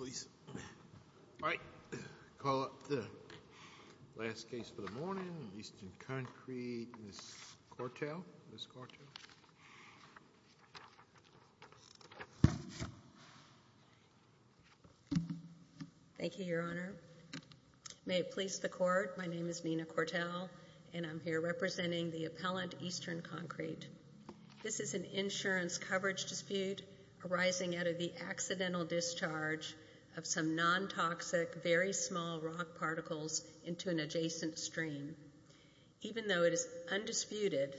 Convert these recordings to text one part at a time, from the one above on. All right, call up the last case for the morning, Eastern Concrete, Ms. Cortell. Thank you, Your Honor. May it please the Court, my name is Nina Cortell, and I'm here representing the appellant Eastern Concrete. This is an insurance coverage dispute arising out of the accidental discharge of some non-toxic, very small rock particles into an adjacent stream. Even though it is undisputed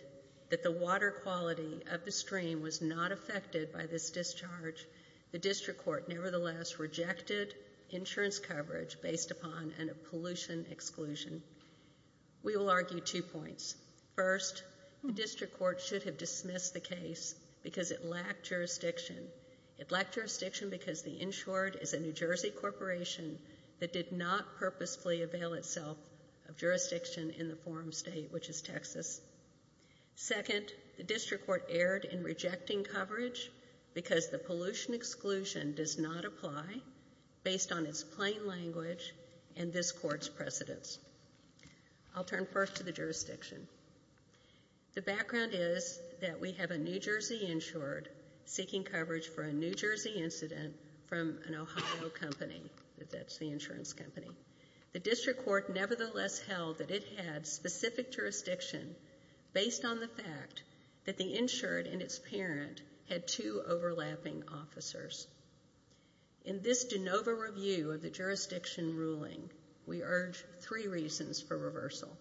that the water quality of the stream was not affected by this discharge, the District Court nevertheless rejected insurance coverage based upon a pollution exclusion. We will argue two points. First, the District Court should have dismissed the case because it lacked jurisdiction. It lacked jurisdiction because the insured is a New Jersey corporation that did not purposefully avail itself of jurisdiction in the forum state, which is Texas. Second, the District Court erred in rejecting coverage because the pollution exclusion does not apply based on its plain language and this Court's precedence. I'll turn first to the jurisdiction. The background is that we have a New Jersey insured seeking coverage for a New Jersey incident from an Ohio company, that's the insurance company. The District Court nevertheless held that it had specific jurisdiction based on the In this de novo review of the jurisdiction ruling, we urge three reasons for reversal.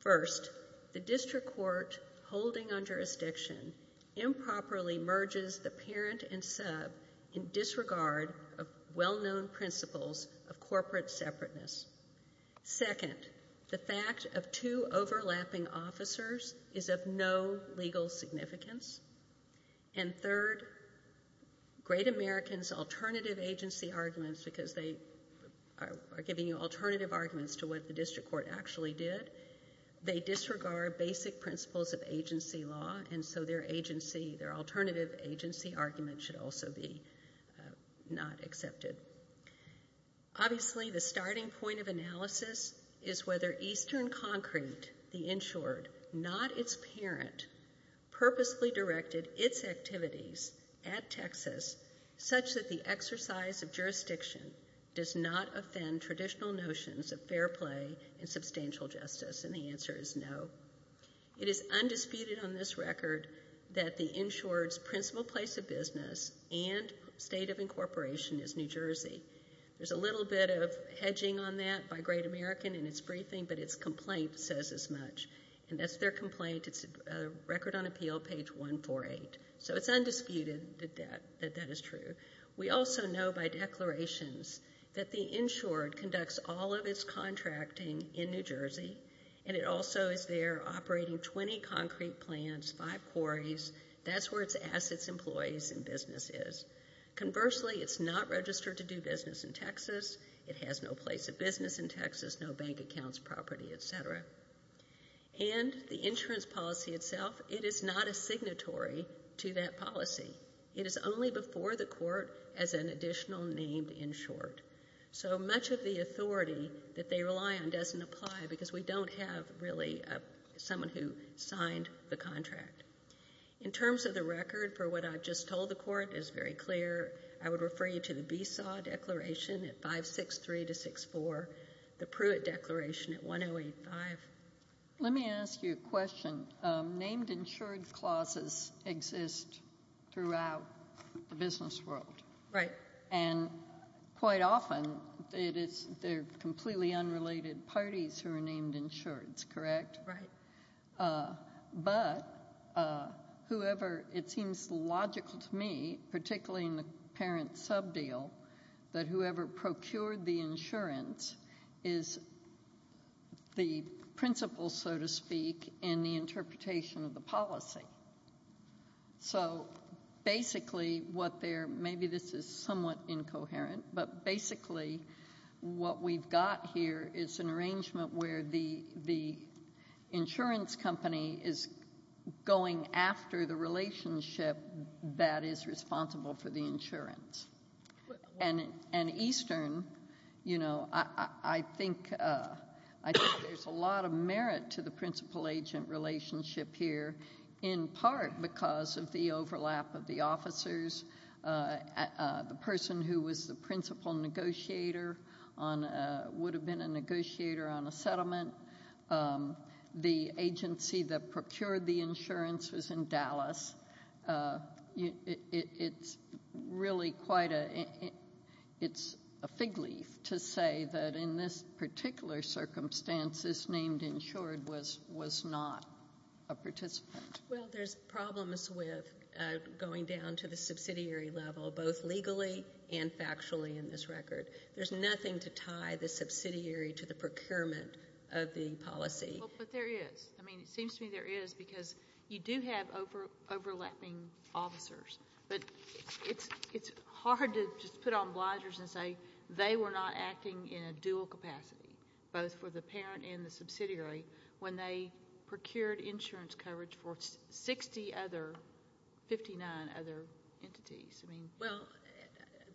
First, the District Court holding on jurisdiction improperly merges the parent and sub in disregard of well-known principles of corporate separateness. Second, the fact of two overlapping officers is of no legal significance. And third, great Americans alternative agency arguments because they are giving you alternative arguments to what the District Court actually did. They disregard basic principles of agency law and so their agency, their alternative agency argument should also be not accepted. Obviously, the starting point of analysis is whether Eastern Concrete, the insured, not its parent, purposely directed its activities at Texas such that the exercise of jurisdiction does not offend traditional notions of fair play and substantial justice and the answer is no. It is undisputed on this record that the insured's principal place of business and state of incorporation is New Jersey. There's a little bit of hedging on that by Great American in its briefing but its complaint says as much and that's their complaint. It's Record on Appeal, page 148. So it's undisputed that that is true. We also know by declarations that the insured conducts all of its contracting in New Jersey and it also is there operating 20 concrete plants, five quarries. That's where its assets, employees, and business is. Conversely, it's not registered to do business in Texas. It has no place of business in Texas, no bank accounts, property, et cetera. And the insurance policy itself, it is not a signatory to that policy. It is only before the court as an additional named insured. So much of the authority that they rely on doesn't apply because we don't have really someone who signed the contract. In terms of the record for what I've just told the court, it's very clear. I would refer you to the Beesaw Declaration at 563-64, the Pruitt Declaration at 1085. Let me ask you a question. Named insured clauses exist throughout the business world. Right. And quite often, they're completely unrelated parties who are named insureds, correct? Right. But whoever, it seems logical to me, particularly in the parent sub-deal, that whoever procured the insurance is the principle, so to speak, in the interpretation of the policy. So basically what they're, maybe this is somewhat incoherent, but basically what we've got here is an arrangement where the insurance company is going after the relationship that is responsible for the insurance. And Eastern, you know, I think there's a lot of merit to the principal-agent relationship here in part because of the overlap of the officers, the person who was the principal negotiator on, would have been a negotiator on a settlement. The agency that procured the insurance was in Dallas. It's really quite a, it's a fig leaf to say that in this particular circumstance, this named insured was not a participant. Well, there's problems with going down to the subsidiary level, both legally and factually in this record. There's nothing to tie the subsidiary to the procurement of the policy. Well, but there is. I mean, it seems to me there is because you do have overlapping officers, but it's hard to just put on blinders and say they were not acting in a dual capacity, both for the parent and the subsidiary, when they procured insurance coverage for 60 other, 59 other entities. I mean. Well,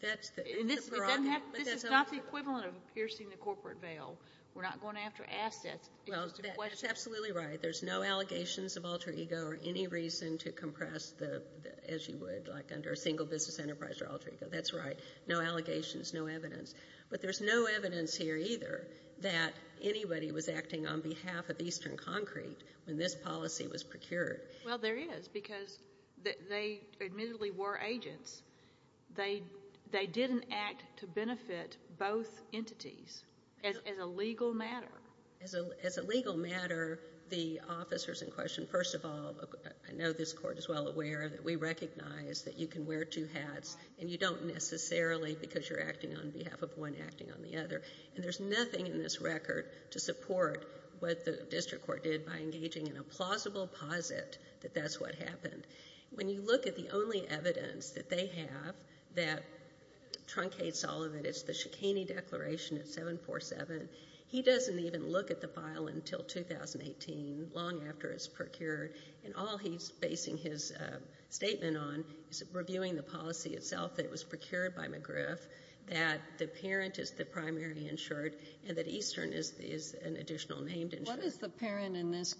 that's the. And this doesn't have, this is not the equivalent of piercing the corporate veil. We're not going to have to ask that. Well, that's absolutely right. There's no allegations of alter ego or any reason to compress the, as you would like under a single business enterprise or alter ego. That's right. No allegations, no evidence. But there's no evidence here either that anybody was acting on behalf of Eastern Concrete when this policy was procured. Well, there is because they admittedly were agents. They didn't act to benefit both entities as a legal matter. As a legal matter, the officers in question, first of all, I know this Court is well aware that we recognize that you can wear two hats and you don't necessarily because you're acting on behalf of one acting on the other. And there's nothing in this record to support what the district court did by engaging in a plausible posit that that's what happened. When you look at the only evidence that they have that truncates all of it, it's the Shekini Declaration at 747. He doesn't even look at the file until 2018, long after it's procured. And all he's basing his statement on is reviewing the policy itself that was procured by McGriff, that the parent is the primary insured, and that Eastern is an additional named insured. What is the parent in this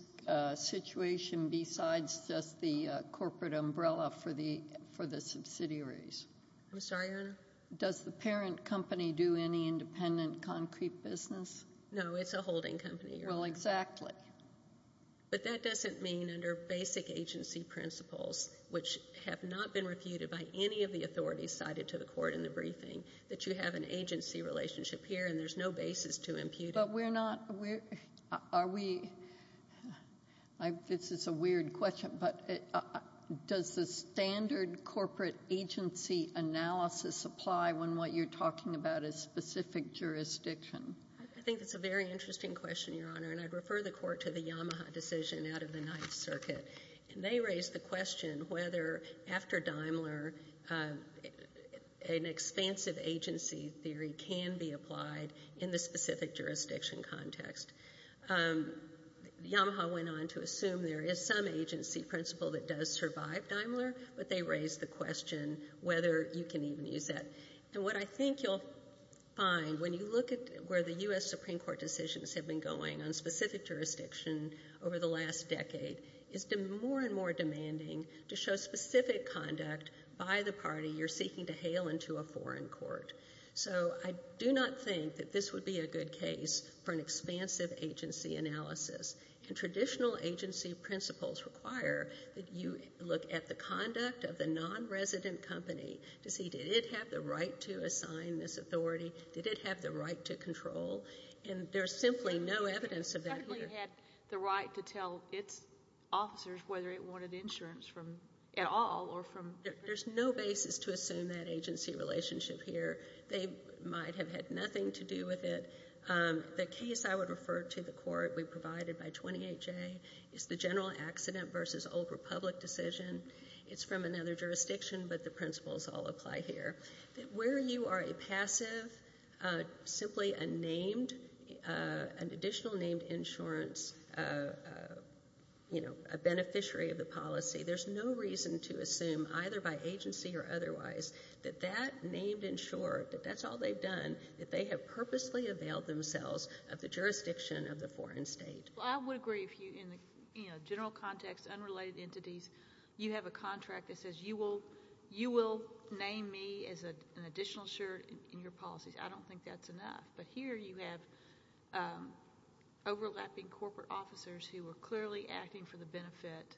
situation besides just the corporate umbrella for the subsidiaries? I'm sorry, Your Honor? Does the parent company do any independent concrete business? No, it's a holding company, Your Honor. Well, exactly. But that doesn't mean under basic agency principles, which have not been refuted by any of the authorities cited to the Court in the briefing, that you have an agency relationship here and there's no basis to impute it. But we're not, are we, this is a weird question, but does the standard corporate agency analysis apply when what you're talking about is specific jurisdiction? I think it's a very interesting question, Your Honor, and I'd refer the Court to the Yamaha decision out of the Ninth Circuit. And they raised the question whether, after Daimler, an expansive agency theory can be used in a specific jurisdiction context. Yamaha went on to assume there is some agency principle that does survive Daimler, but they raised the question whether you can even use that. And what I think you'll find when you look at where the U.S. Supreme Court decisions have been going on specific jurisdiction over the last decade is more and more demanding to show specific conduct by the party you're seeking to hail into a foreign court. So I do not think that this would be a good case for an expansive agency analysis. And traditional agency principles require that you look at the conduct of the nonresident company to see, did it have the right to assign this authority? Did it have the right to control? And there's simply no evidence of that here. It certainly had the right to tell its officers whether it wanted insurance from, at all, or from. There's no basis to assume that agency relationship here. They might have had nothing to do with it. The case I would refer to the court, we provided by 28J, is the general accident versus old republic decision. It's from another jurisdiction, but the principles all apply here. Where you are a passive, simply a named, an additional named insurance, you know, a beneficiary of the policy. There's no reason to assume, either by agency or otherwise, that that named insured, that that's all they've done, that they have purposely availed themselves of the jurisdiction of the foreign state. Well, I would agree if you, in the general context, unrelated entities, you have a contract that says you will name me as an additional insured in your policies. I don't think that's enough. But here you have overlapping corporate officers who are clearly acting for the benefit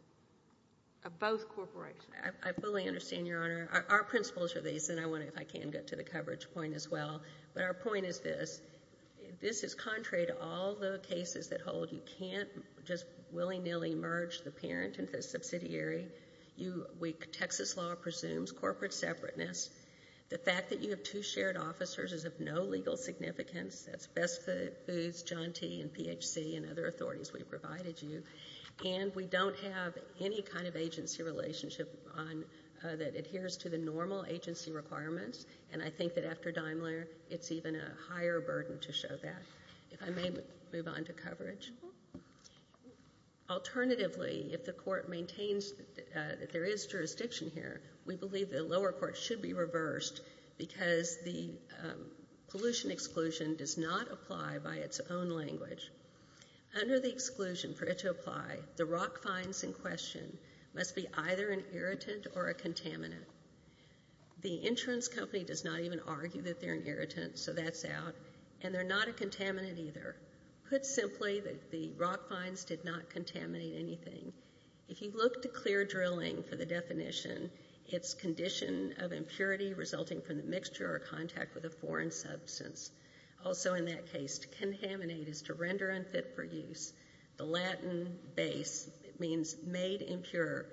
of both corporations. I fully understand, Your Honor. Our principles are these, and I wonder if I can get to the coverage point as well. But our point is this. This is contrary to all the cases that hold you can't just willy-nilly merge the parent and the subsidiary. Texas law presumes corporate separateness. The fact that you have two shared officers is of no legal significance. That's best for John T. and P.H.C. and other authorities we've provided you. And we don't have any kind of agency relationship on, that adheres to the normal agency requirements. And I think that after Daimler, it's even a higher burden to show that. If I may move on to coverage. Alternatively, if the court maintains that there is jurisdiction here, we believe the case is reversed because the pollution exclusion does not apply by its own language. Under the exclusion for it to apply, the rock finds in question must be either an irritant or a contaminant. The insurance company does not even argue that they're an irritant, so that's out. And they're not a contaminant either. Put simply, the rock finds did not contaminate anything. If you look to clear drilling for the definition, it's condition of impurity resulting from the mixture or contact with a foreign substance. Also in that case, to contaminate is to render unfit for use. The Latin base means made impure.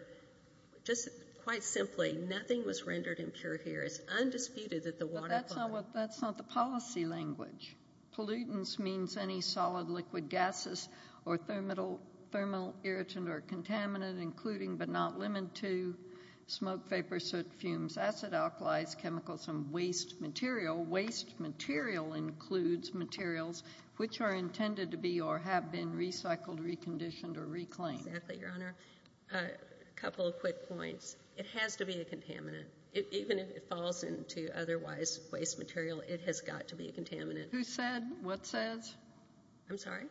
Just quite simply, nothing was rendered impure here. It's undisputed that the water. That's not the policy language. Pollutants means any solid liquid gases or thermal irritant or contaminant including but not limited to smoke, vapor, soot, fumes, acid, alkalis, chemicals, and waste material. Waste material includes materials which are intended to be or have been recycled, reconditioned, or reclaimed. Exactly, Your Honor. A couple of quick points. It has to be a contaminant. Even if it falls into otherwise waste material, it has got to be a contaminant. Who said? What says? I'm sorry?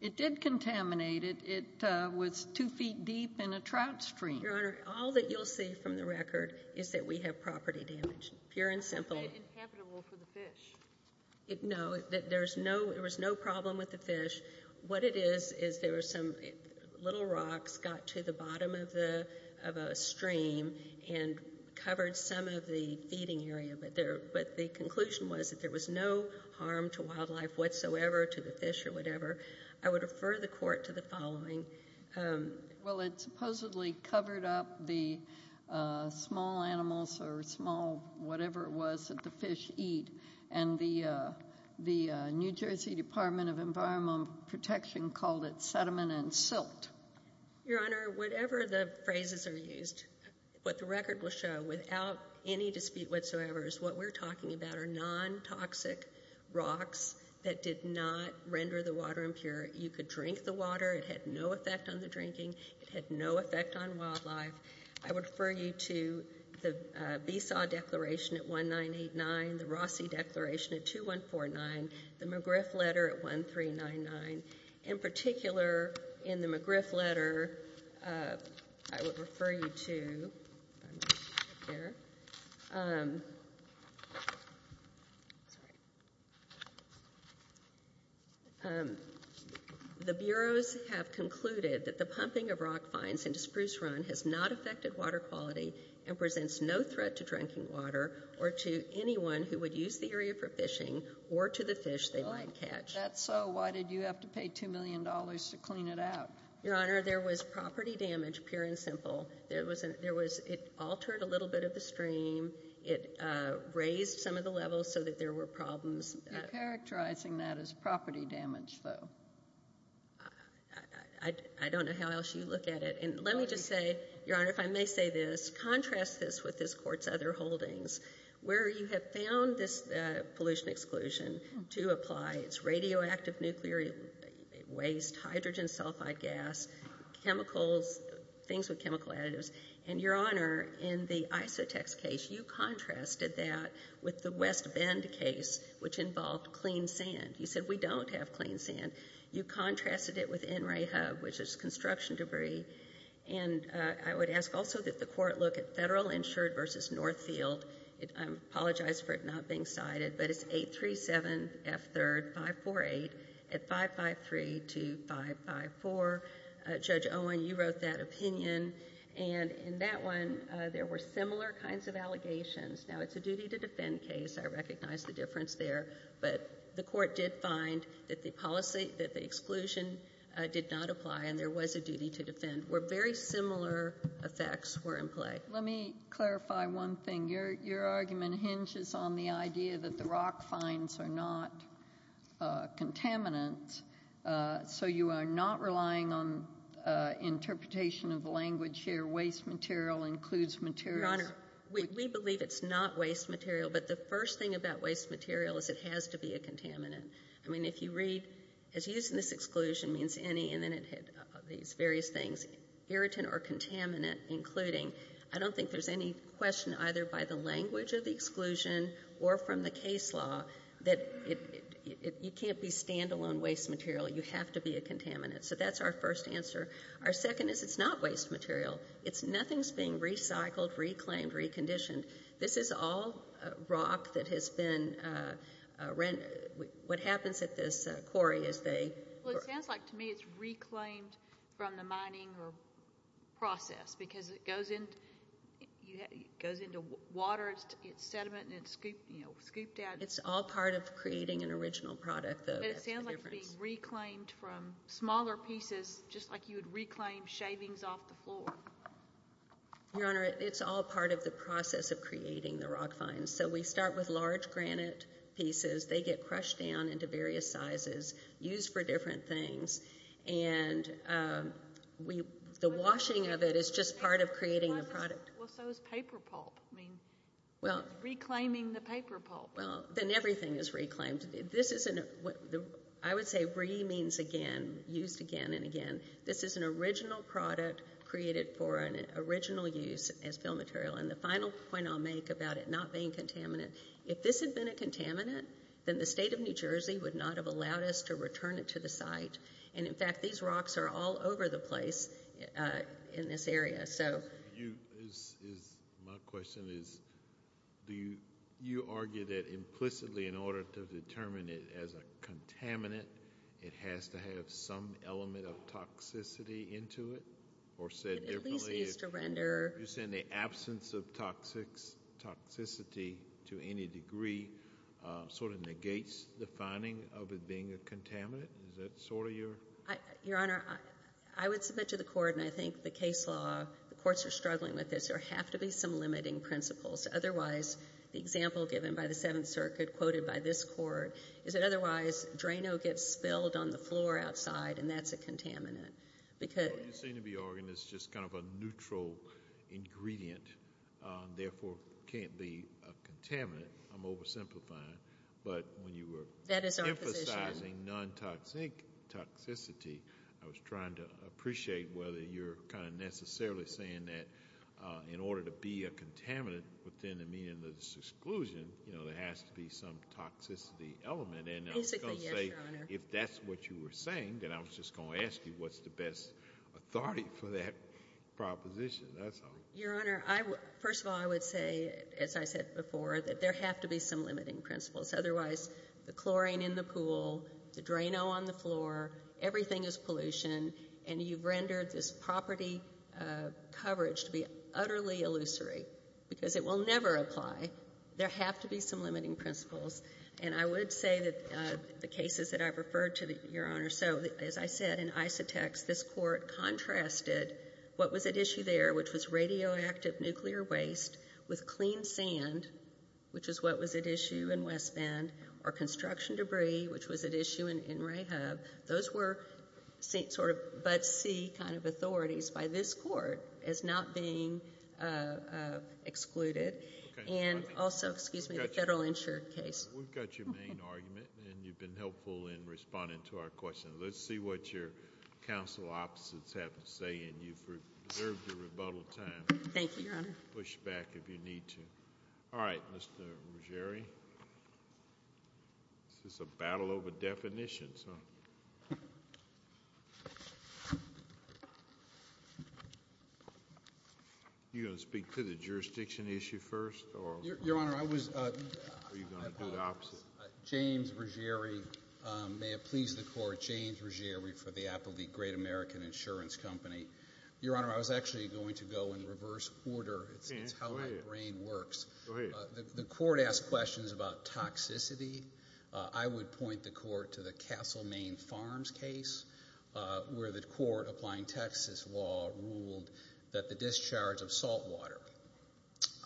It did contaminate it. It was two feet deep in a trout stream. Your Honor, all that you'll see from the record is that we have property damage, pure and simple. It's not made inhabitable for the fish. No, there was no problem with the fish. What it is, is there were some little rocks got to the bottom of a stream and covered some of the feeding area. But the conclusion was that there was no harm to wildlife whatsoever, to the fish or whatever. I would refer the court to the following. Well it supposedly covered up the small animals or small whatever it was that the fish eat. And the New Jersey Department of Environmental Protection called it sediment and silt. Your Honor, whatever the phrases are used, what the record will show without any dispute whatsoever is what we're talking about are non-toxic rocks that did not render the water impure. You could drink the water. It had no effect on the drinking. It had no effect on wildlife. I would refer you to the VSAW declaration at 1989, the Rossi declaration at 2149, the McGriff letter at 1399. In particular, in the McGriff letter, I would refer you to, the bureaus have concluded that the pumping of rock fines into Spruce Run has not affected water quality and presents no threat to drinking water or to anyone who would use the area for fishing or to the fish they might catch. If that's so, why did you have to pay $2 million to clean it out? Your Honor, there was property damage, pure and simple. There was an, there was, it altered a little bit of the stream. It raised some of the levels so that there were problems. You're characterizing that as property damage, though. I don't know how else you look at it. And let me just say, Your Honor, if I may say this, contrast this with this Court's other holdings, where you have found this pollution exclusion to apply, it's radioactive nuclear waste, hydrogen sulfide gas, chemicals, things with chemical additives, and Your Honor, in the Isotex case, you contrasted that with the West Bend case, which involved clean sand. You said we don't have clean sand. You contrasted it with NREHUB, which is construction debris, and I would ask also that the Court look at Federal Insured v. Northfield. I apologize for it not being cited, but it's 837F3RD548 at 5532554. Judge Owen, you wrote that opinion, and in that one, there were similar kinds of allegations. Now, it's a duty to defend case, I recognize the difference there, but the Court did find that the policy, that the exclusion did not apply, and there was a duty to defend, where very similar effects were in play. Let me clarify one thing. Your argument hinges on the idea that the rock finds are not contaminants, so you are not relying on interpretation of the language here, waste material includes materials. Your Honor, we believe it's not waste material, but the first thing about waste material is it has to be a contaminant. I mean, if you read, as using this exclusion means any, and then it had these various things, irritant or contaminant including, I don't think there's any question either by the language of the exclusion or from the case law that you can't be stand-alone waste material. You have to be a contaminant, so that's our first answer. Our second is it's not waste material. It's nothing's being recycled, reclaimed, reconditioned. This is all rock that has been, what happens at this quarry is they... Well, it sounds like to me it's reclaimed from the mining process because it goes into water, it's sediment, and it's scooped out. It's all part of creating an original product, though. But it sounds like it's being reclaimed from smaller pieces, just like you would reclaim shavings off the floor. Your Honor, it's all part of the process of creating the rock finds. So we start with large granite pieces. They get crushed down into various sizes, used for different things, and the washing of it is just part of creating a product. Well, so is paper pulp. I mean, reclaiming the paper pulp. Well, then everything is reclaimed. This isn't... I would say re means again, used again and again. This is an original product created for an original use as fill material. And the final point I'll make about it not being contaminant, if this had been a contaminant, then the state of New Jersey would not have allowed us to return it to the site. And in fact, these rocks are all over the place in this area. So... My question is, you argue that implicitly in order to determine it as a contaminant, it has to have some element of toxicity into it? Or said differently... It at least needs to render... You're saying the absence of toxicity to any degree sort of negates the finding of it being a contaminant? Is that sort of your... Your Honor, I would submit to the court, and I think the case law, the courts are struggling with this, there have to be some limiting principles. Otherwise, the example given by the Seventh Circuit, quoted by this court, is that otherwise a draino gets spilled on the floor outside, and that's a contaminant. Because... Well, you seem to be arguing it's just kind of a neutral ingredient, therefore can't be a contaminant. I'm oversimplifying. But when you were... That is our position. ...emphasizing non-toxic toxicity, I was trying to appreciate whether you're kind of necessarily saying that in order to be a contaminant within the meaning of this exclusion, you know, there has to be some toxicity element. Basically, yes, Your Honor. I was going to say, if that's what you were saying, then I was just going to ask you what's the best authority for that proposition, that's all. Your Honor, first of all, I would say, as I said before, that there have to be some limiting principles. Otherwise, the chlorine in the pool, the draino on the floor, everything is pollution, and you've rendered this property coverage to be utterly illusory, because it will never apply. There have to be some limiting principles. And I would say that the cases that I've referred to, Your Honor, so, as I said, in Isotex, this Court contrasted what was at issue there, which was radioactive nuclear waste with clean sand, which is what was at issue in West Bend, or construction debris, which was at issue in Ray Hub. Those were sort of but-see kind of authorities by this Court as not being excluded. And also, excuse me, the federal insured case. We've got your main argument, and you've been helpful in responding to our question. Let's see what your counsel opposites have to say, and you've observed your rebuttal time. Thank you, Your Honor. Push back if you need to. All right, Mr. Ruggieri. This is a battle over definitions, huh? You're going to speak to the jurisdiction issue first? Yes. Your Honor, I was— Are you going to do the opposite? James Ruggieri, may it please the Court, James Ruggieri for the Applethe Great American Insurance Company. Your Honor, I was actually going to go in reverse order. Okay, go ahead. It's how my brain works. Go ahead. The Court asked questions about toxicity. I would point the Court to the Castle, Maine Farms case where the Court, applying Texas law, ruled that the discharge of saltwater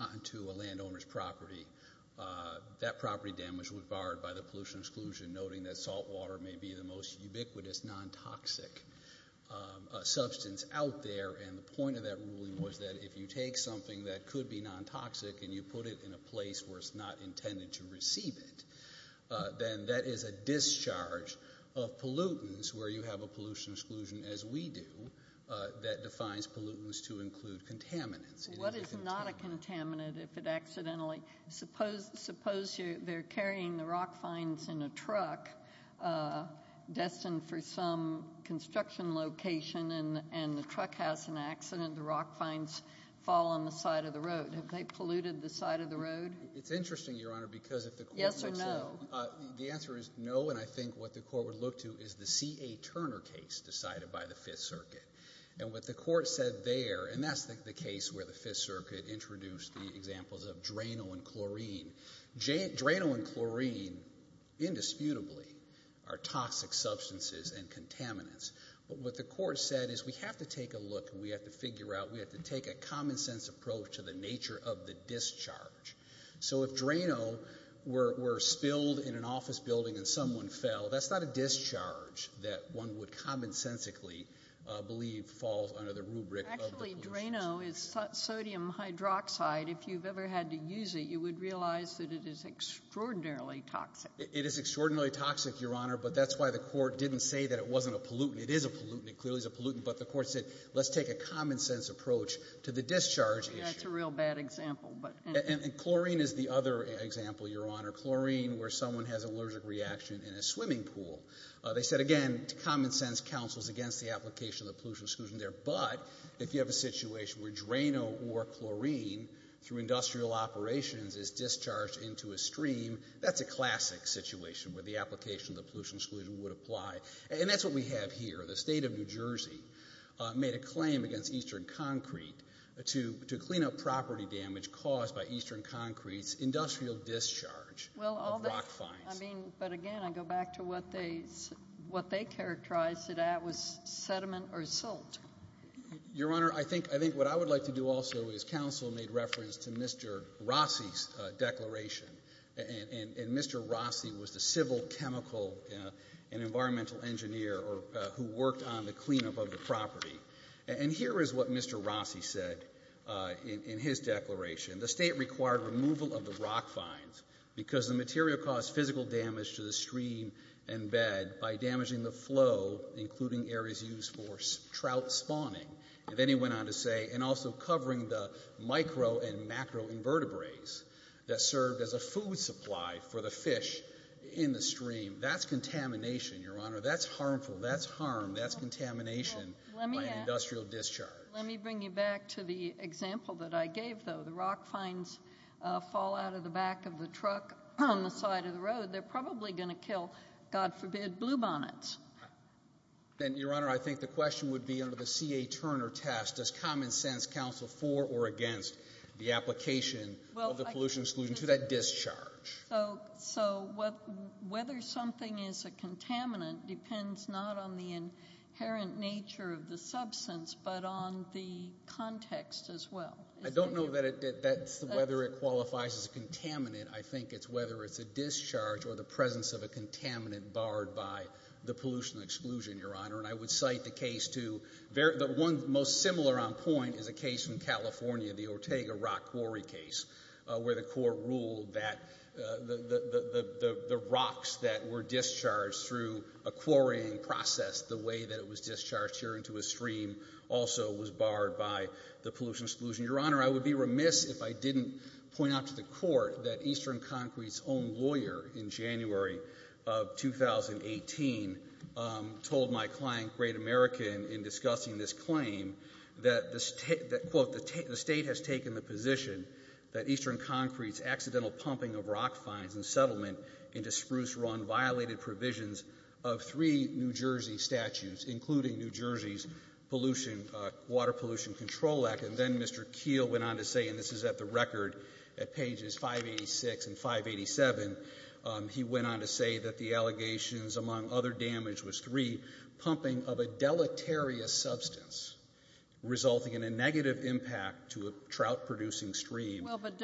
onto a landowner's property, that property damage was barred by the pollution exclusion, noting that saltwater may be the most ubiquitous non-toxic substance out there. The point of that ruling was that if you take something that could be non-toxic and you put it in a place where it's not intended to receive it, then that is a discharge of that defines pollutants to include contaminants. What is not a contaminant if it accidentally—suppose they're carrying the rock finds in a truck destined for some construction location and the truck has an accident, the rock finds fall on the side of the road. Have they polluted the side of the road? It's interesting, Your Honor, because if the Court makes a— Yes or no? The answer is no, and I think what the Court would look to is the C.A. Turner case decided by the Fifth Circuit. And what the Court said there—and that's the case where the Fifth Circuit introduced the examples of Drano and chlorine. Drano and chlorine, indisputably, are toxic substances and contaminants. But what the Court said is we have to take a look and we have to figure out, we have to take a common-sense approach to the nature of the discharge. So if Drano were spilled in an office building and someone fell, that's not a discharge that one would commonsensically believe falls under the rubric of the pollutants. Actually, Drano is sodium hydroxide. If you've ever had to use it, you would realize that it is extraordinarily toxic. It is extraordinarily toxic, Your Honor, but that's why the Court didn't say that it wasn't a pollutant. It is a pollutant. It clearly is a pollutant. But the Court said, let's take a common-sense approach to the discharge issue. That's a real bad example, but— And chlorine is the other example, Your Honor. Chlorine, where someone has an allergic reaction in a swimming pool. They said, again, common-sense counsels against the application of the pollution exclusion there, but if you have a situation where Drano or chlorine, through industrial operations, is discharged into a stream, that's a classic situation where the application of the pollution exclusion would apply. And that's what we have here. The State of New Jersey made a claim against Eastern Concrete to clean up property damage caused by Eastern Concrete's industrial discharge of rock finds. I mean, but again, I go back to what they characterized that that was sediment or salt. Your Honor, I think what I would like to do also is counsel made reference to Mr. Rossi's declaration. And Mr. Rossi was the civil chemical and environmental engineer who worked on the cleanup of the property. And here is what Mr. Rossi said in his declaration. The State required removal of the rock finds because the material caused physical damage to the stream and bed by damaging the flow, including areas used for trout spawning. And then he went on to say, and also covering the micro and macro-invertebrates that served as a food supply for the fish in the stream. That's contamination, Your Honor. That's harmful. That's harm. That's contamination by an industrial discharge. Let me bring you back to the example that I gave, though. The rock finds fall out of the back of the truck on the side of the road. They're probably going to kill, God forbid, bluebonnets. Then, Your Honor, I think the question would be under the C.A. Turner test, does common sense counsel for or against the application of the pollution exclusion to that discharge? So whether something is a contaminant depends not on the inherent nature of the substance but on the context as well. I don't know whether it qualifies as a contaminant. I think it's whether it's a discharge or the presence of a contaminant barred by the pollution exclusion, Your Honor. And I would cite the case to the one most similar on point is a case in California, the Ortega rock quarry case, where the court ruled that the rocks that were discharged through a quarrying process, the way that it was discharged here into a stream, also was barred by the pollution exclusion. Your Honor, I would be remiss if I didn't point out to the court that Eastern Concrete's own lawyer in January of 2018 told my client, Great American, in discussing this claim that, quote, the state has taken the position that Eastern Concrete's accidental pumping of rock finds and settlement into spruce run violated provisions of three New Jersey statutes, including New Jersey's Pollution Water Pollution Control Act. And then Mr. Keel went on to say, and this is at the record at pages 586 and 587, he went on to say that the allegations, among other damage, was three, pumping of a deleterious substance, resulting in a negative impact to a trout-producing stream. Well, but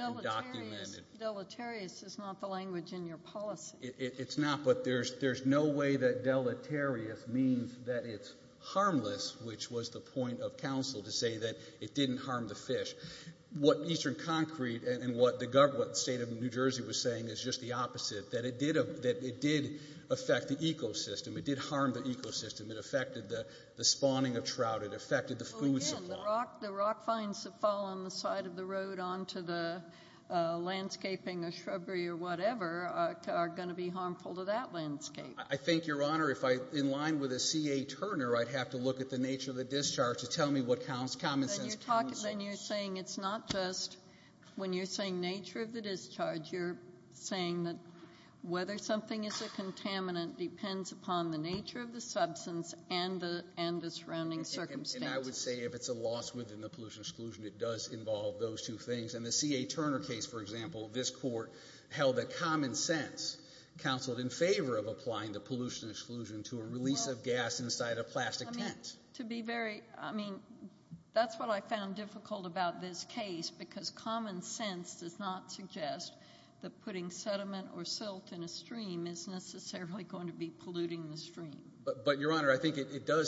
deleterious is not the language in your policy. It's not, but there's no way that deleterious means that it's harmless, which was the point of counsel to say that it didn't harm the fish. What Eastern Concrete and what the state of New Jersey was saying is just the opposite, that it did affect the ecosystem. It did harm the ecosystem. It affected the spawning of trout. It affected the food supply. The rock finds that fall on the side of the road onto the landscaping or shrubbery or whatever are going to be harmful to that landscape. I think, Your Honor, if I'm in line with a C.A. Turner, I'd have to look at the nature of the discharge to tell me what counts, common sense. When you're saying it's not just when you're saying nature of the discharge, you're saying that whether something is a contaminant depends upon the nature of the substance and the surrounding circumstances. I would say if it's a loss within the pollution exclusion, it does involve those two things. In the C.A. Turner case, for example, this court held that common sense counseled in favor of applying the pollution exclusion to a release of gas inside a plastic tent. I mean, that's what I found difficult about this case because common sense does not suggest that putting sediment or silt in a stream is necessarily going to be polluting the stream. But, Your Honor, I think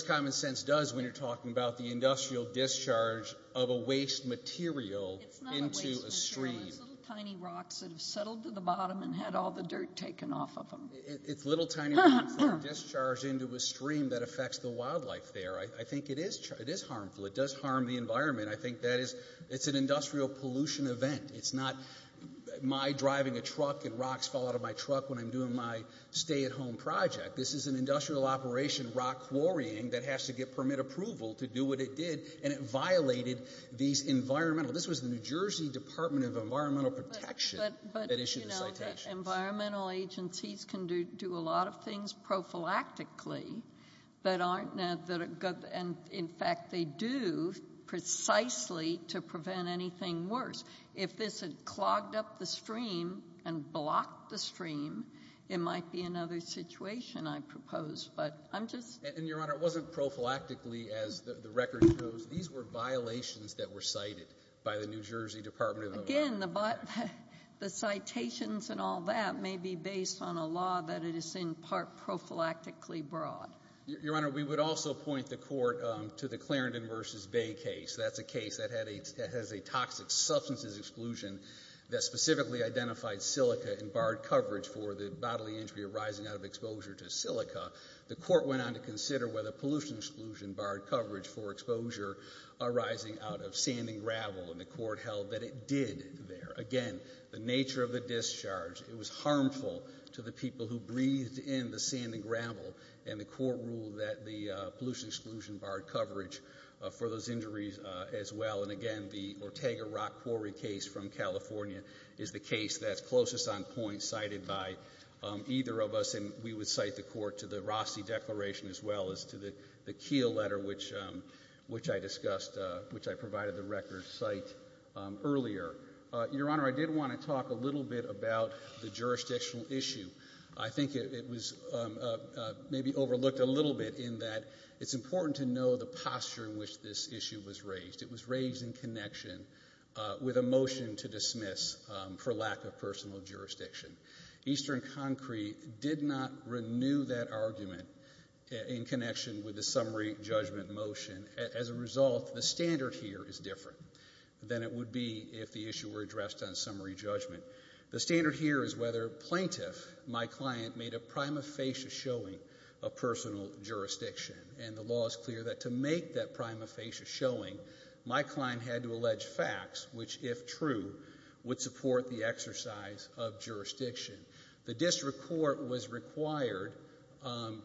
common sense does when you're talking about the industrial discharge of a waste material into a stream. It's not a waste material. It's little tiny rocks that have settled to the bottom and had all the dirt taken off of them. It's little tiny rocks that are discharged into a stream that affects the wildlife there. I think it is harmful. It does harm the environment. I think it's an industrial pollution event. It's not my driving a truck and rocks fall out of my truck when I'm doing my stay-at-home project. This is an industrial operation, rock quarrying, that has to get permit approval to do what it did, and it violated these environmental... This was the New Jersey Department of Environmental Protection that issued the citations. But, you know, environmental agencies can do a lot of things prophylactically that aren't... and, in fact, they do precisely to prevent anything worse. If this had clogged up the stream and blocked the stream, it might be another situation, I propose. But I'm just... And, Your Honor, it wasn't prophylactically, as the record shows. These were violations that were cited by the New Jersey Department of Environmental Protection. Again, the citations and all that may be based on a law that is in part prophylactically broad. Your Honor, we would also point the Court to the Clarendon v. Bay case. That's a case that has a toxic substances exclusion that specifically identified silica and barred coverage for the bodily injury arising out of exposure to silica. The Court went on to consider whether pollution exclusion barred coverage for exposure arising out of sand and gravel, and the Court held that it did there. Again, the nature of the discharge, it was harmful to the people who breathed in the sand and gravel, and the Court ruled that the pollution exclusion barred coverage for those injuries as well. And again, the Ortega-Rock Quarry case from California is the case that's closest on point cited by either of us, and we would cite the Court to the Rossi Declaration as well as to the Keele letter, which I discussed, which I provided the record site earlier. Your Honor, I did want to talk a little bit about the jurisdictional issue. I think it was maybe overlooked a little bit in that it's important to know the posture in which this issue was raised. It was raised in connection with a motion to dismiss for lack of personal jurisdiction. Eastern Concrete did not renew that argument in connection with the summary judgment motion. As a result, the standard here is different than it would be if the issue were addressed on summary judgment. The standard here is whether plaintiff, my client, made a prima facie showing of personal jurisdiction, and the law is clear that to make that prima facie showing, my client had to allege facts, which, if true, would support the exercise of jurisdiction. The district court was required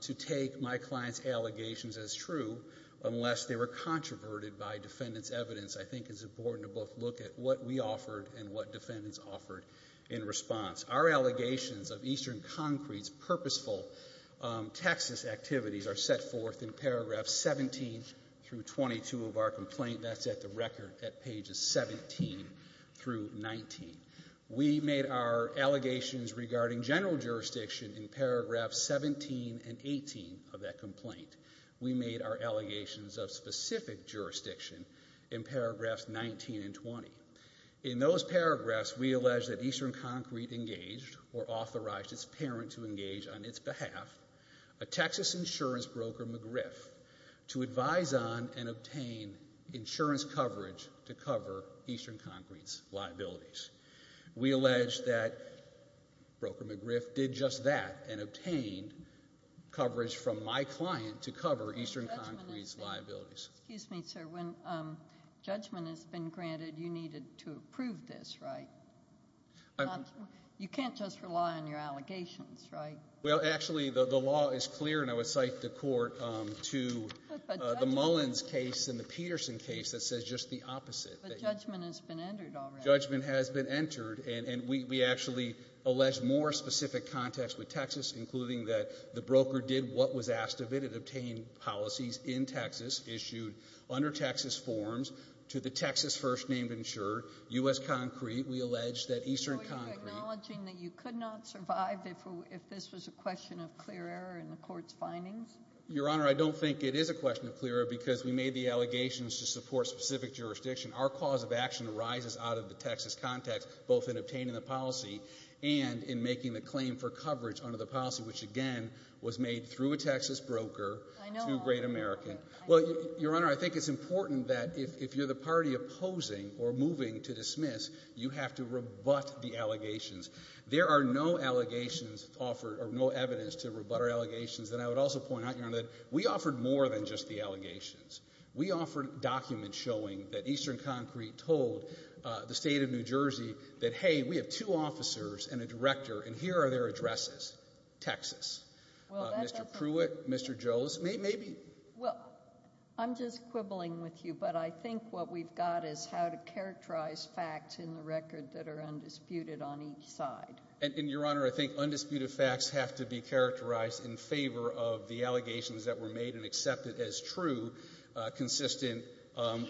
to take my client's allegations as true unless they were controverted by defendant's evidence. I think it's important to both look at what we offered and what defendants offered in response. Our allegations of Eastern Concrete's purposeful Texas activities are set forth in paragraphs 17 through 22 of our complaint. That's at the record at pages 17 through 19. We made our allegations regarding general jurisdiction in paragraphs 17 and 18 of that complaint. We made our allegations of specific jurisdiction in paragraphs 19 and 20. In those paragraphs, we allege that Eastern Concrete engaged or authorized its parent to engage on its behalf a Texas insurance broker, McGriff, to advise on and obtain insurance coverage to cover Eastern Concrete's liabilities. We allege that broker McGriff did just that and obtained coverage from my client to cover Eastern Concrete's liabilities. Excuse me, sir. When judgment has been granted, you needed to approve this, right? You can't just rely on your allegations, right? Well, actually, the law is clear, and I would cite the court to the Mullins case and the Peterson case that says just the opposite. But judgment has been entered already. Judgment has been entered, and we actually allege more specific context with Texas, including that the broker did what was asked of it and obtained policies in Texas, issued under Texas forms to the Texas first-named insurer, U.S. Concrete. We allege that Eastern Concrete— Are you acknowledging that you could not survive if this was a question of clear error in the court's findings? Your Honor, I don't think it is a question of clear error because we made the allegations to support specific jurisdiction. Our cause of action arises out of the Texas context, both in obtaining the policy and in making the claim for coverage under the policy, which, again, was made through a Texas broker to Great American. Well, Your Honor, I think it's important that if you're the party opposing or moving to dismiss, you have to rebut the allegations. There are no allegations offered or no evidence to rebut our allegations. And I would also point out, Your Honor, that we offered more than just the allegations. We offered documents showing that Eastern Concrete told the State of New Jersey that, hey, we have two officers and a director, and here are their addresses, Texas. Mr. Pruitt, Mr. Jones, maybe— Well, I'm just quibbling with you, but I think what we've got is how to characterize facts in the record that are undisputed on each side. And, Your Honor, I think undisputed facts have to be characterized in favor of the allegations that were made and accepted as true, consistent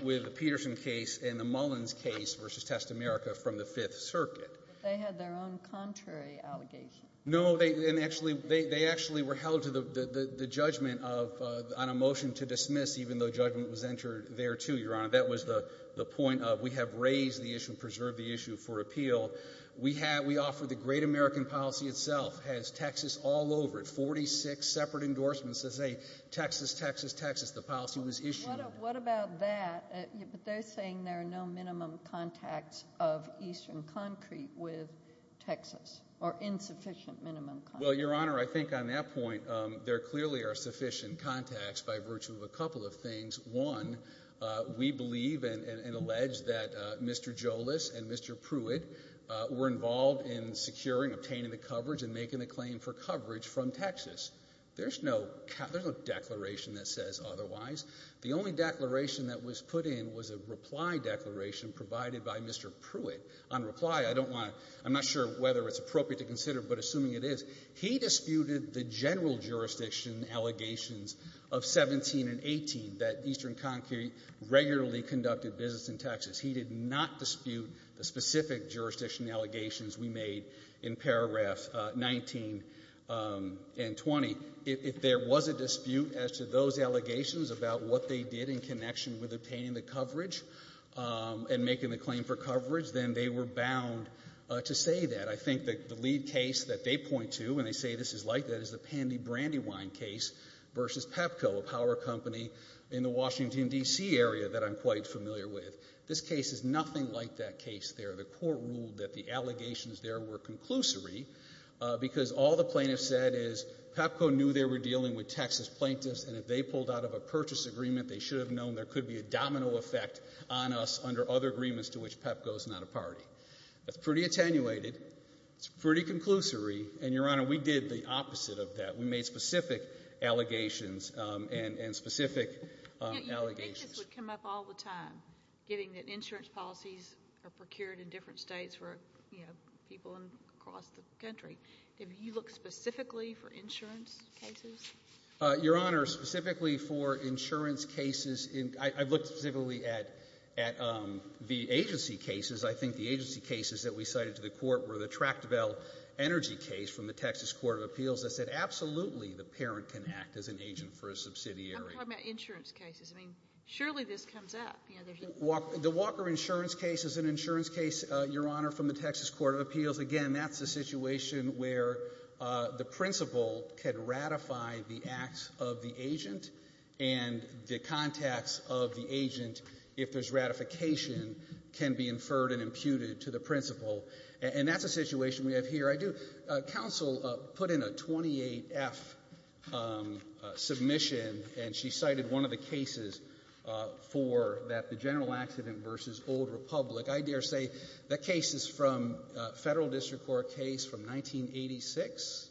with the Peterson case and the Mullins case versus Testamerica from the Fifth Circuit. But they had their own contrary allegations. No, and actually they actually were held to the judgment on a motion to dismiss, even though judgment was entered there, too, Your Honor. That was the point of we have raised the issue, preserved the issue for appeal. We offered the Great American Policy itself. It has Texas all over it, 46 separate endorsements that say Texas, Texas, Texas. The policy was issued. What about that? But they're saying there are no minimum contacts of Eastern Concrete with Texas or insufficient minimum contacts. Well, Your Honor, I think on that point there clearly are sufficient contacts by virtue of a couple of things. One, we believe and allege that Mr. Jolis and Mr. Pruitt were involved in securing, obtaining the coverage and making the claim for coverage from Texas. There's no declaration that says otherwise. The only declaration that was put in was a reply declaration provided by Mr. Pruitt. On reply, I don't want to ‑‑ I'm not sure whether it's appropriate to consider, but assuming it is, he disputed the general jurisdiction allegations of 17 and 18 that Eastern Concrete regularly conducted business in Texas. He did not dispute the specific jurisdiction allegations we made in paragraphs 19 and 20. If there was a dispute as to those allegations about what they did in connection with obtaining the coverage and making the claim for coverage, then they were bound to say that. I think that the lead case that they point to when they say this is like that is the Pandy Brandywine case versus Pepco, a power company in the Washington, D.C., area that I'm quite familiar with. This case is nothing like that case there. The court ruled that the allegations there were conclusory because all the plaintiffs said is Pepco knew they were dealing with Texas plaintiffs, and if they pulled out of a purchase agreement, they should have known there could be a domino effect on us under other agreements to which Pepco is not a party. That's pretty attenuated. It's pretty conclusory, and, Your Honor, we did the opposite of that. We made specific allegations and specific allegations. You would think this would come up all the time, given that insurance policies are procured in different states for people across the country. Have you looked specifically for insurance cases? Your Honor, specifically for insurance cases, I've looked specifically at the agency cases. I think the agency cases that we cited to the Court were the Tractable Energy case from the Texas Court of Appeals that said absolutely the parent can act as an agent for a subsidiary. I'm talking about insurance cases. I mean, surely this comes up. The Walker insurance case is an insurance case, Your Honor, from the Texas Court of Appeals. Again, that's a situation where the principal can ratify the acts of the agent, and the contacts of the agent, if there's ratification, can be inferred and imputed to the principal. And that's a situation we have here. I do. Counsel put in a 28F submission, and she cited one of the cases for that, the general accident v. Old Republic. I dare say that case is from a Federal District Court case from 1986,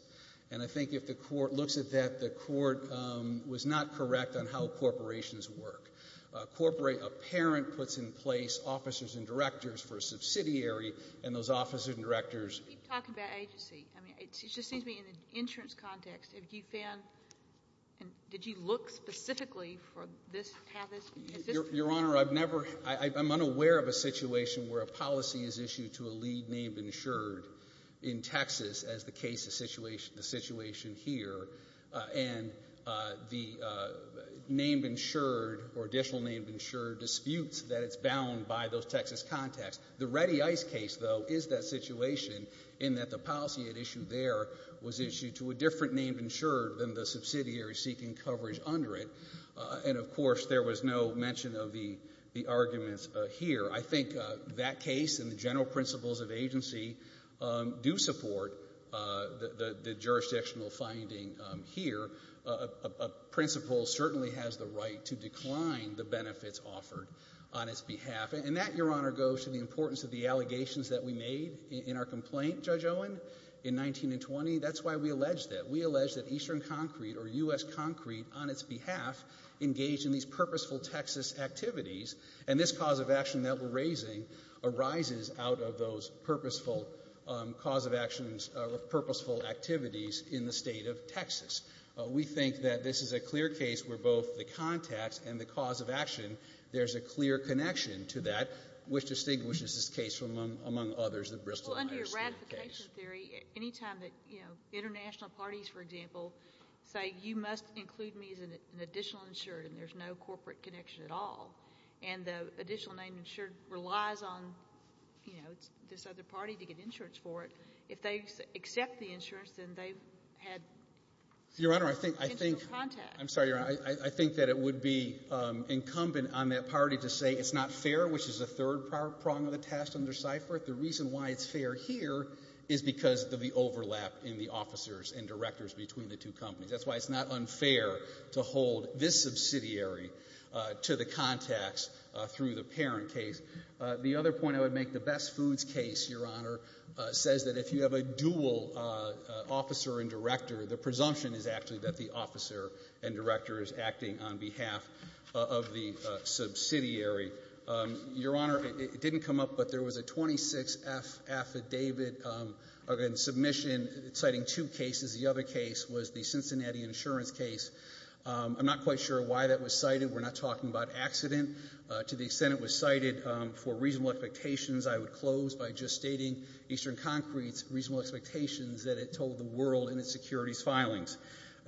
and I think if the Court looks at that, the Court was not correct on how corporations work. A parent puts in place officers and directors for a subsidiary, and those officers and directors ---- You keep talking about agency. I mean, it just seems to me in an insurance context, have you found and did you look specifically for this path? Your Honor, I've never ---- I'm unaware of a situation where a policy is issued to a lead named insured in Texas as the case of the situation here, and the named insured or additional named insured disputes that it's bound by those Texas contacts. The Ready Ice case, though, is that situation in that the policy at issue there was issued to a different named insured than the subsidiary seeking coverage under it. And, of course, there was no mention of the arguments here. I think that case and the general principles of agency do support the jurisdictional finding here. A principle certainly has the right to decline the benefits offered on its behalf. And that, Your Honor, goes to the importance of the allegations that we made in our complaint, Judge Owen, in 1920. That's why we allege that. We allege that Eastern Concrete or U.S. Concrete on its behalf engaged in these purposeful Texas activities. And this cause of action that we're raising arises out of those purposeful cause of actions or purposeful activities in the state of Texas. We think that this is a clear case where both the contacts and the cause of action, there's a clear connection to that, which distinguishes this case from, among others, the Bristol-Myers case. Well, under your ratification theory, any time that, you know, international parties, for example, say you must include me as an additional insured and there's no corporate connection at all and the additional name insured relies on, you know, this other party to get insurance for it, if they accept the insurance, then they've had potential contact. Your Honor, I think that it would be incumbent on that party to say it's not fair, which is the third prong of the test under CIFR. The reason why it's fair here is because of the overlap in the officers and directors between the two companies. That's why it's not unfair to hold this subsidiary to the contacts through the parent case. The other point I would make, the Best Foods case, Your Honor, says that if you have a dual officer and director, the presumption is actually that the officer and director is acting on behalf of the subsidiary. Your Honor, it didn't come up, but there was a 26-F affidavit in submission citing two cases. The other case was the Cincinnati insurance case. I'm not quite sure why that was cited. We're not talking about accident. To the extent it was cited for reasonable expectations, I would close by just stating Eastern Concrete's reasonable expectations that it told the world in its securities filings,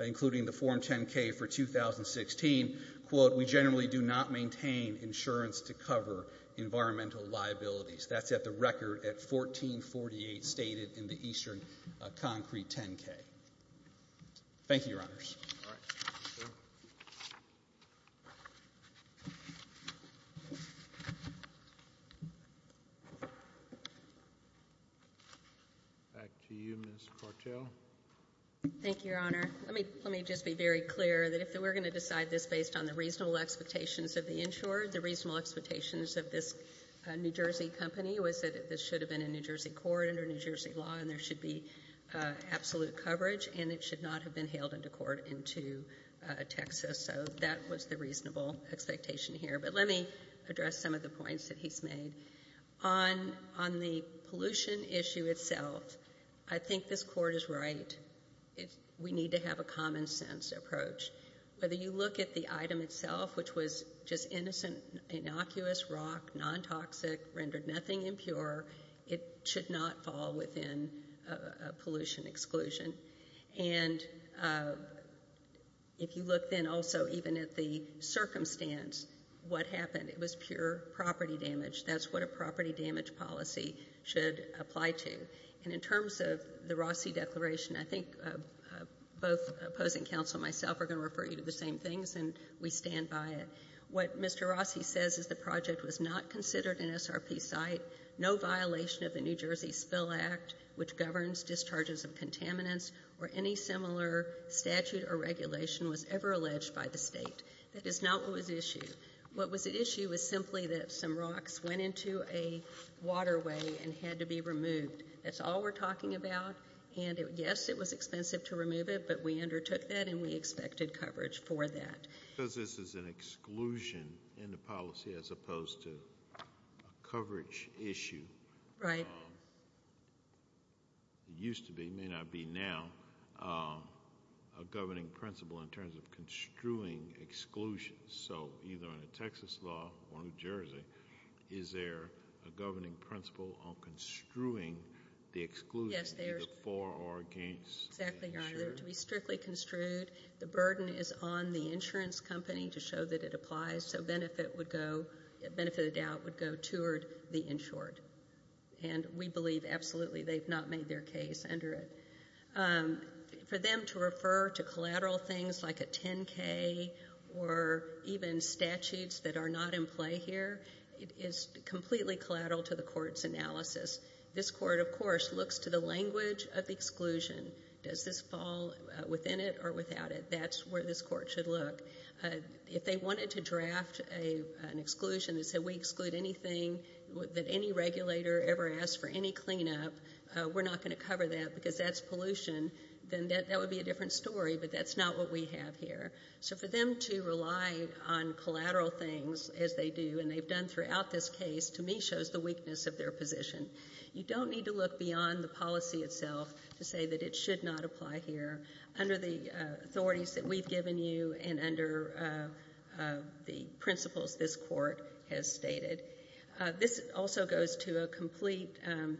including the Form 10-K for 2016, quote, we generally do not maintain insurance to cover environmental liabilities. That's at the record at 1448 stated in the Eastern Concrete 10-K. Thank you, Your Honors. All right. Thank you. Back to you, Ms. Cartel. Thank you, Your Honor. Let me just be very clear that if we're going to decide this based on the reasonable expectations of the insurer, the reasonable expectations of this New Jersey company was that this should have been in New Jersey court under New Jersey law and there should be absolute coverage, and it should not have been hailed into court into Texas. So that was the reasonable expectation here. But let me address some of the points that he's made. On the pollution issue itself, I think this Court is right. We need to have a common-sense approach. Whether you look at the item itself, which was just innocent, innocuous rock, non-toxic, rendered nothing impure, it should not fall within a pollution exclusion. And if you look then also even at the circumstance, what happened, it was pure property damage. That's what a property damage policy should apply to. And in terms of the Rossi Declaration, I think both opposing counsel and myself are going to refer you to the same things, and we stand by it. What Mr. Rossi says is the project was not considered an SRP site, no violation of the New Jersey Spill Act, which governs discharges of contaminants, or any similar statute or regulation was ever alleged by the State. That is not what was at issue. What was at issue was simply that some rocks went into a waterway and had to be removed. That's all we're talking about. And, yes, it was expensive to remove it, but we undertook that and we expected coverage for that. Because this is an exclusion in the policy as opposed to a coverage issue. Right. It used to be, may not be now, a governing principle in terms of construing exclusions. So either under Texas law or New Jersey, is there a governing principle on construing the exclusion either for or against? Exactly right. To be strictly construed, the burden is on the insurance company to show that it applies, so benefit of the doubt would go toward the insured. And we believe absolutely they've not made their case under it. For them to refer to collateral things like a 10-K or even statutes that are not in play here, it is completely collateral to the court's analysis. This court, of course, looks to the language of the exclusion. Does this fall within it or without it? That's where this court should look. If they wanted to draft an exclusion that said, then that would be a different story, but that's not what we have here. So for them to rely on collateral things as they do, and they've done throughout this case, to me shows the weakness of their position. You don't need to look beyond the policy itself to say that it should not apply here. Under the authorities that we've given you and under the principles this court has stated. This also goes to a complete, and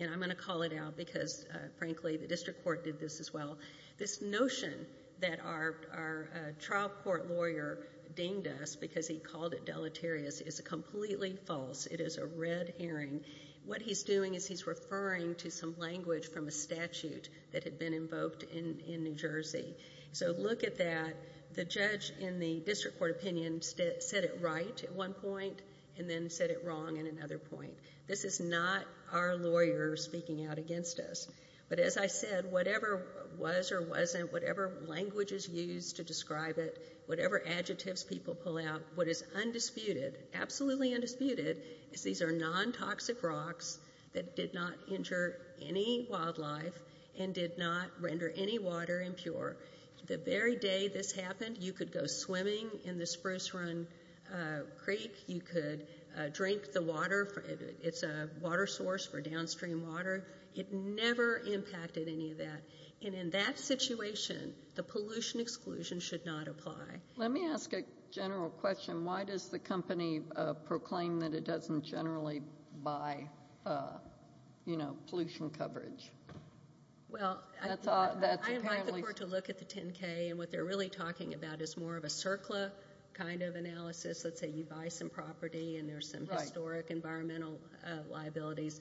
I'm going to call it out because, frankly, the district court did this as well. This notion that our trial court lawyer dinged us because he called it deleterious is completely false. It is a red herring. What he's doing is he's referring to some language from a statute that had been invoked in New Jersey. So look at that. The judge in the district court opinion said it right at one point and then said it wrong at another point. This is not our lawyer speaking out against us. But as I said, whatever was or wasn't, whatever language is used to describe it, whatever adjectives people pull out, what is undisputed, absolutely undisputed, is these are non-toxic rocks that did not injure any wildlife and did not render any water impure. The very day this happened, you could go swimming in the Spruce Run Creek. You could drink the water. It's a water source for downstream water. It never impacted any of that. And in that situation, the pollution exclusion should not apply. Let me ask a general question. Why does the company proclaim that it doesn't generally buy, you know, pollution coverage? Well, I invite the court to look at the 10-K, and what they're really talking about is more of a CERCLA kind of analysis. Let's say you buy some property and there's some historic environmental liabilities.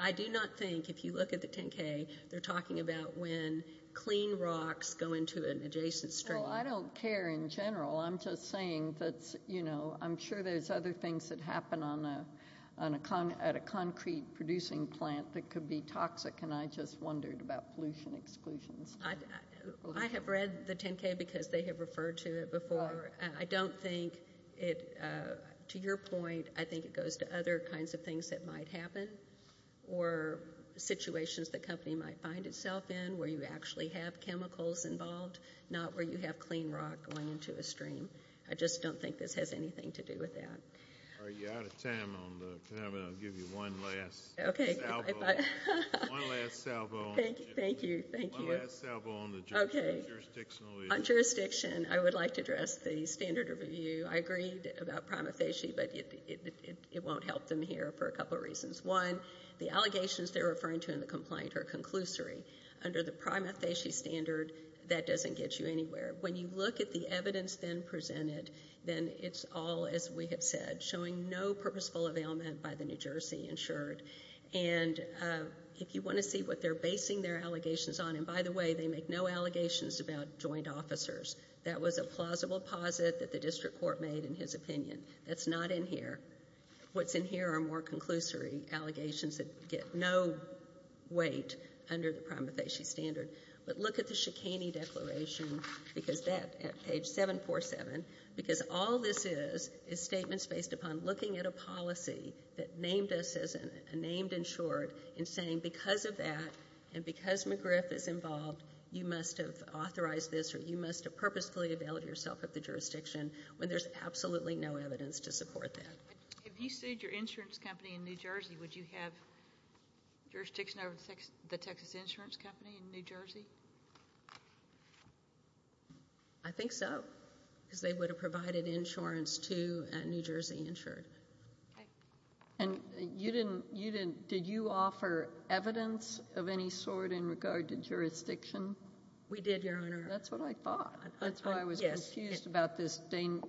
I do not think, if you look at the 10-K, they're talking about when clean rocks go into an adjacent stream. Well, I don't care in general. I'm just saying that, you know, I'm sure there's other things that happen at a concrete producing plant that could be toxic, and I just wondered about pollution exclusions. I have read the 10-K because they have referred to it before. I don't think it, to your point, I think it goes to other kinds of things that might happen or situations the company might find itself in where you actually have chemicals involved, not where you have clean rock going into a stream. I just don't think this has anything to do with that. All right. You're out of time on the panel. I'll give you one last salvo. Okay. One last salvo. Thank you. Thank you. One last salvo on the jurisdictional issues. Okay. On jurisdiction, I would like to address the standard of review. I agreed about prima facie, but it won't help them here for a couple reasons. One, the allegations they're referring to in the complaint are conclusory. Under the prima facie standard, that doesn't get you anywhere. When you look at the evidence then presented, then it's all, as we have said, showing no purposeful availment by the New Jersey insured. And if you want to see what they're basing their allegations on, and by the way, they make no allegations about joint officers. That was a plausible posit that the district court made in his opinion. That's not in here. What's in here are more conclusory allegations that get no weight under the prima facie standard. But look at the Shikany Declaration, because that at page 747, because all this is is statements based upon looking at a policy that named us as a named insured and saying because of that and because McGriff is involved, you must have authorized this or you must have purposefully availed yourself of the jurisdiction when there's absolutely no evidence to support that. If you sued your insurance company in New Jersey, would you have jurisdiction over the Texas insurance company in New Jersey? I think so, because they would have provided insurance to New Jersey insured. Okay. And you didn't, did you offer evidence of any sort in regard to jurisdiction? We did, Your Honor. That's what I thought. That's why I was confused about this thing.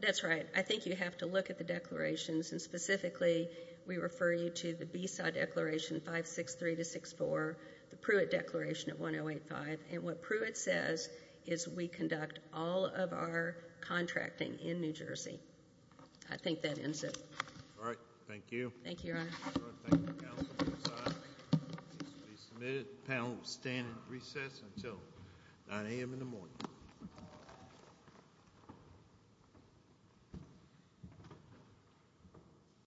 That's right. I think you have to look at the declarations, and specifically we refer you to the BESA Declaration 563-64, the Pruitt Declaration of 1085, and what Pruitt says is we conduct all of our contracting in New Jersey. I think that ends it. All right. Thank you. Thank you, Your Honor. Thank you, counsel. The case will be submitted. The panel will stand at recess until 9 a.m. in the morning.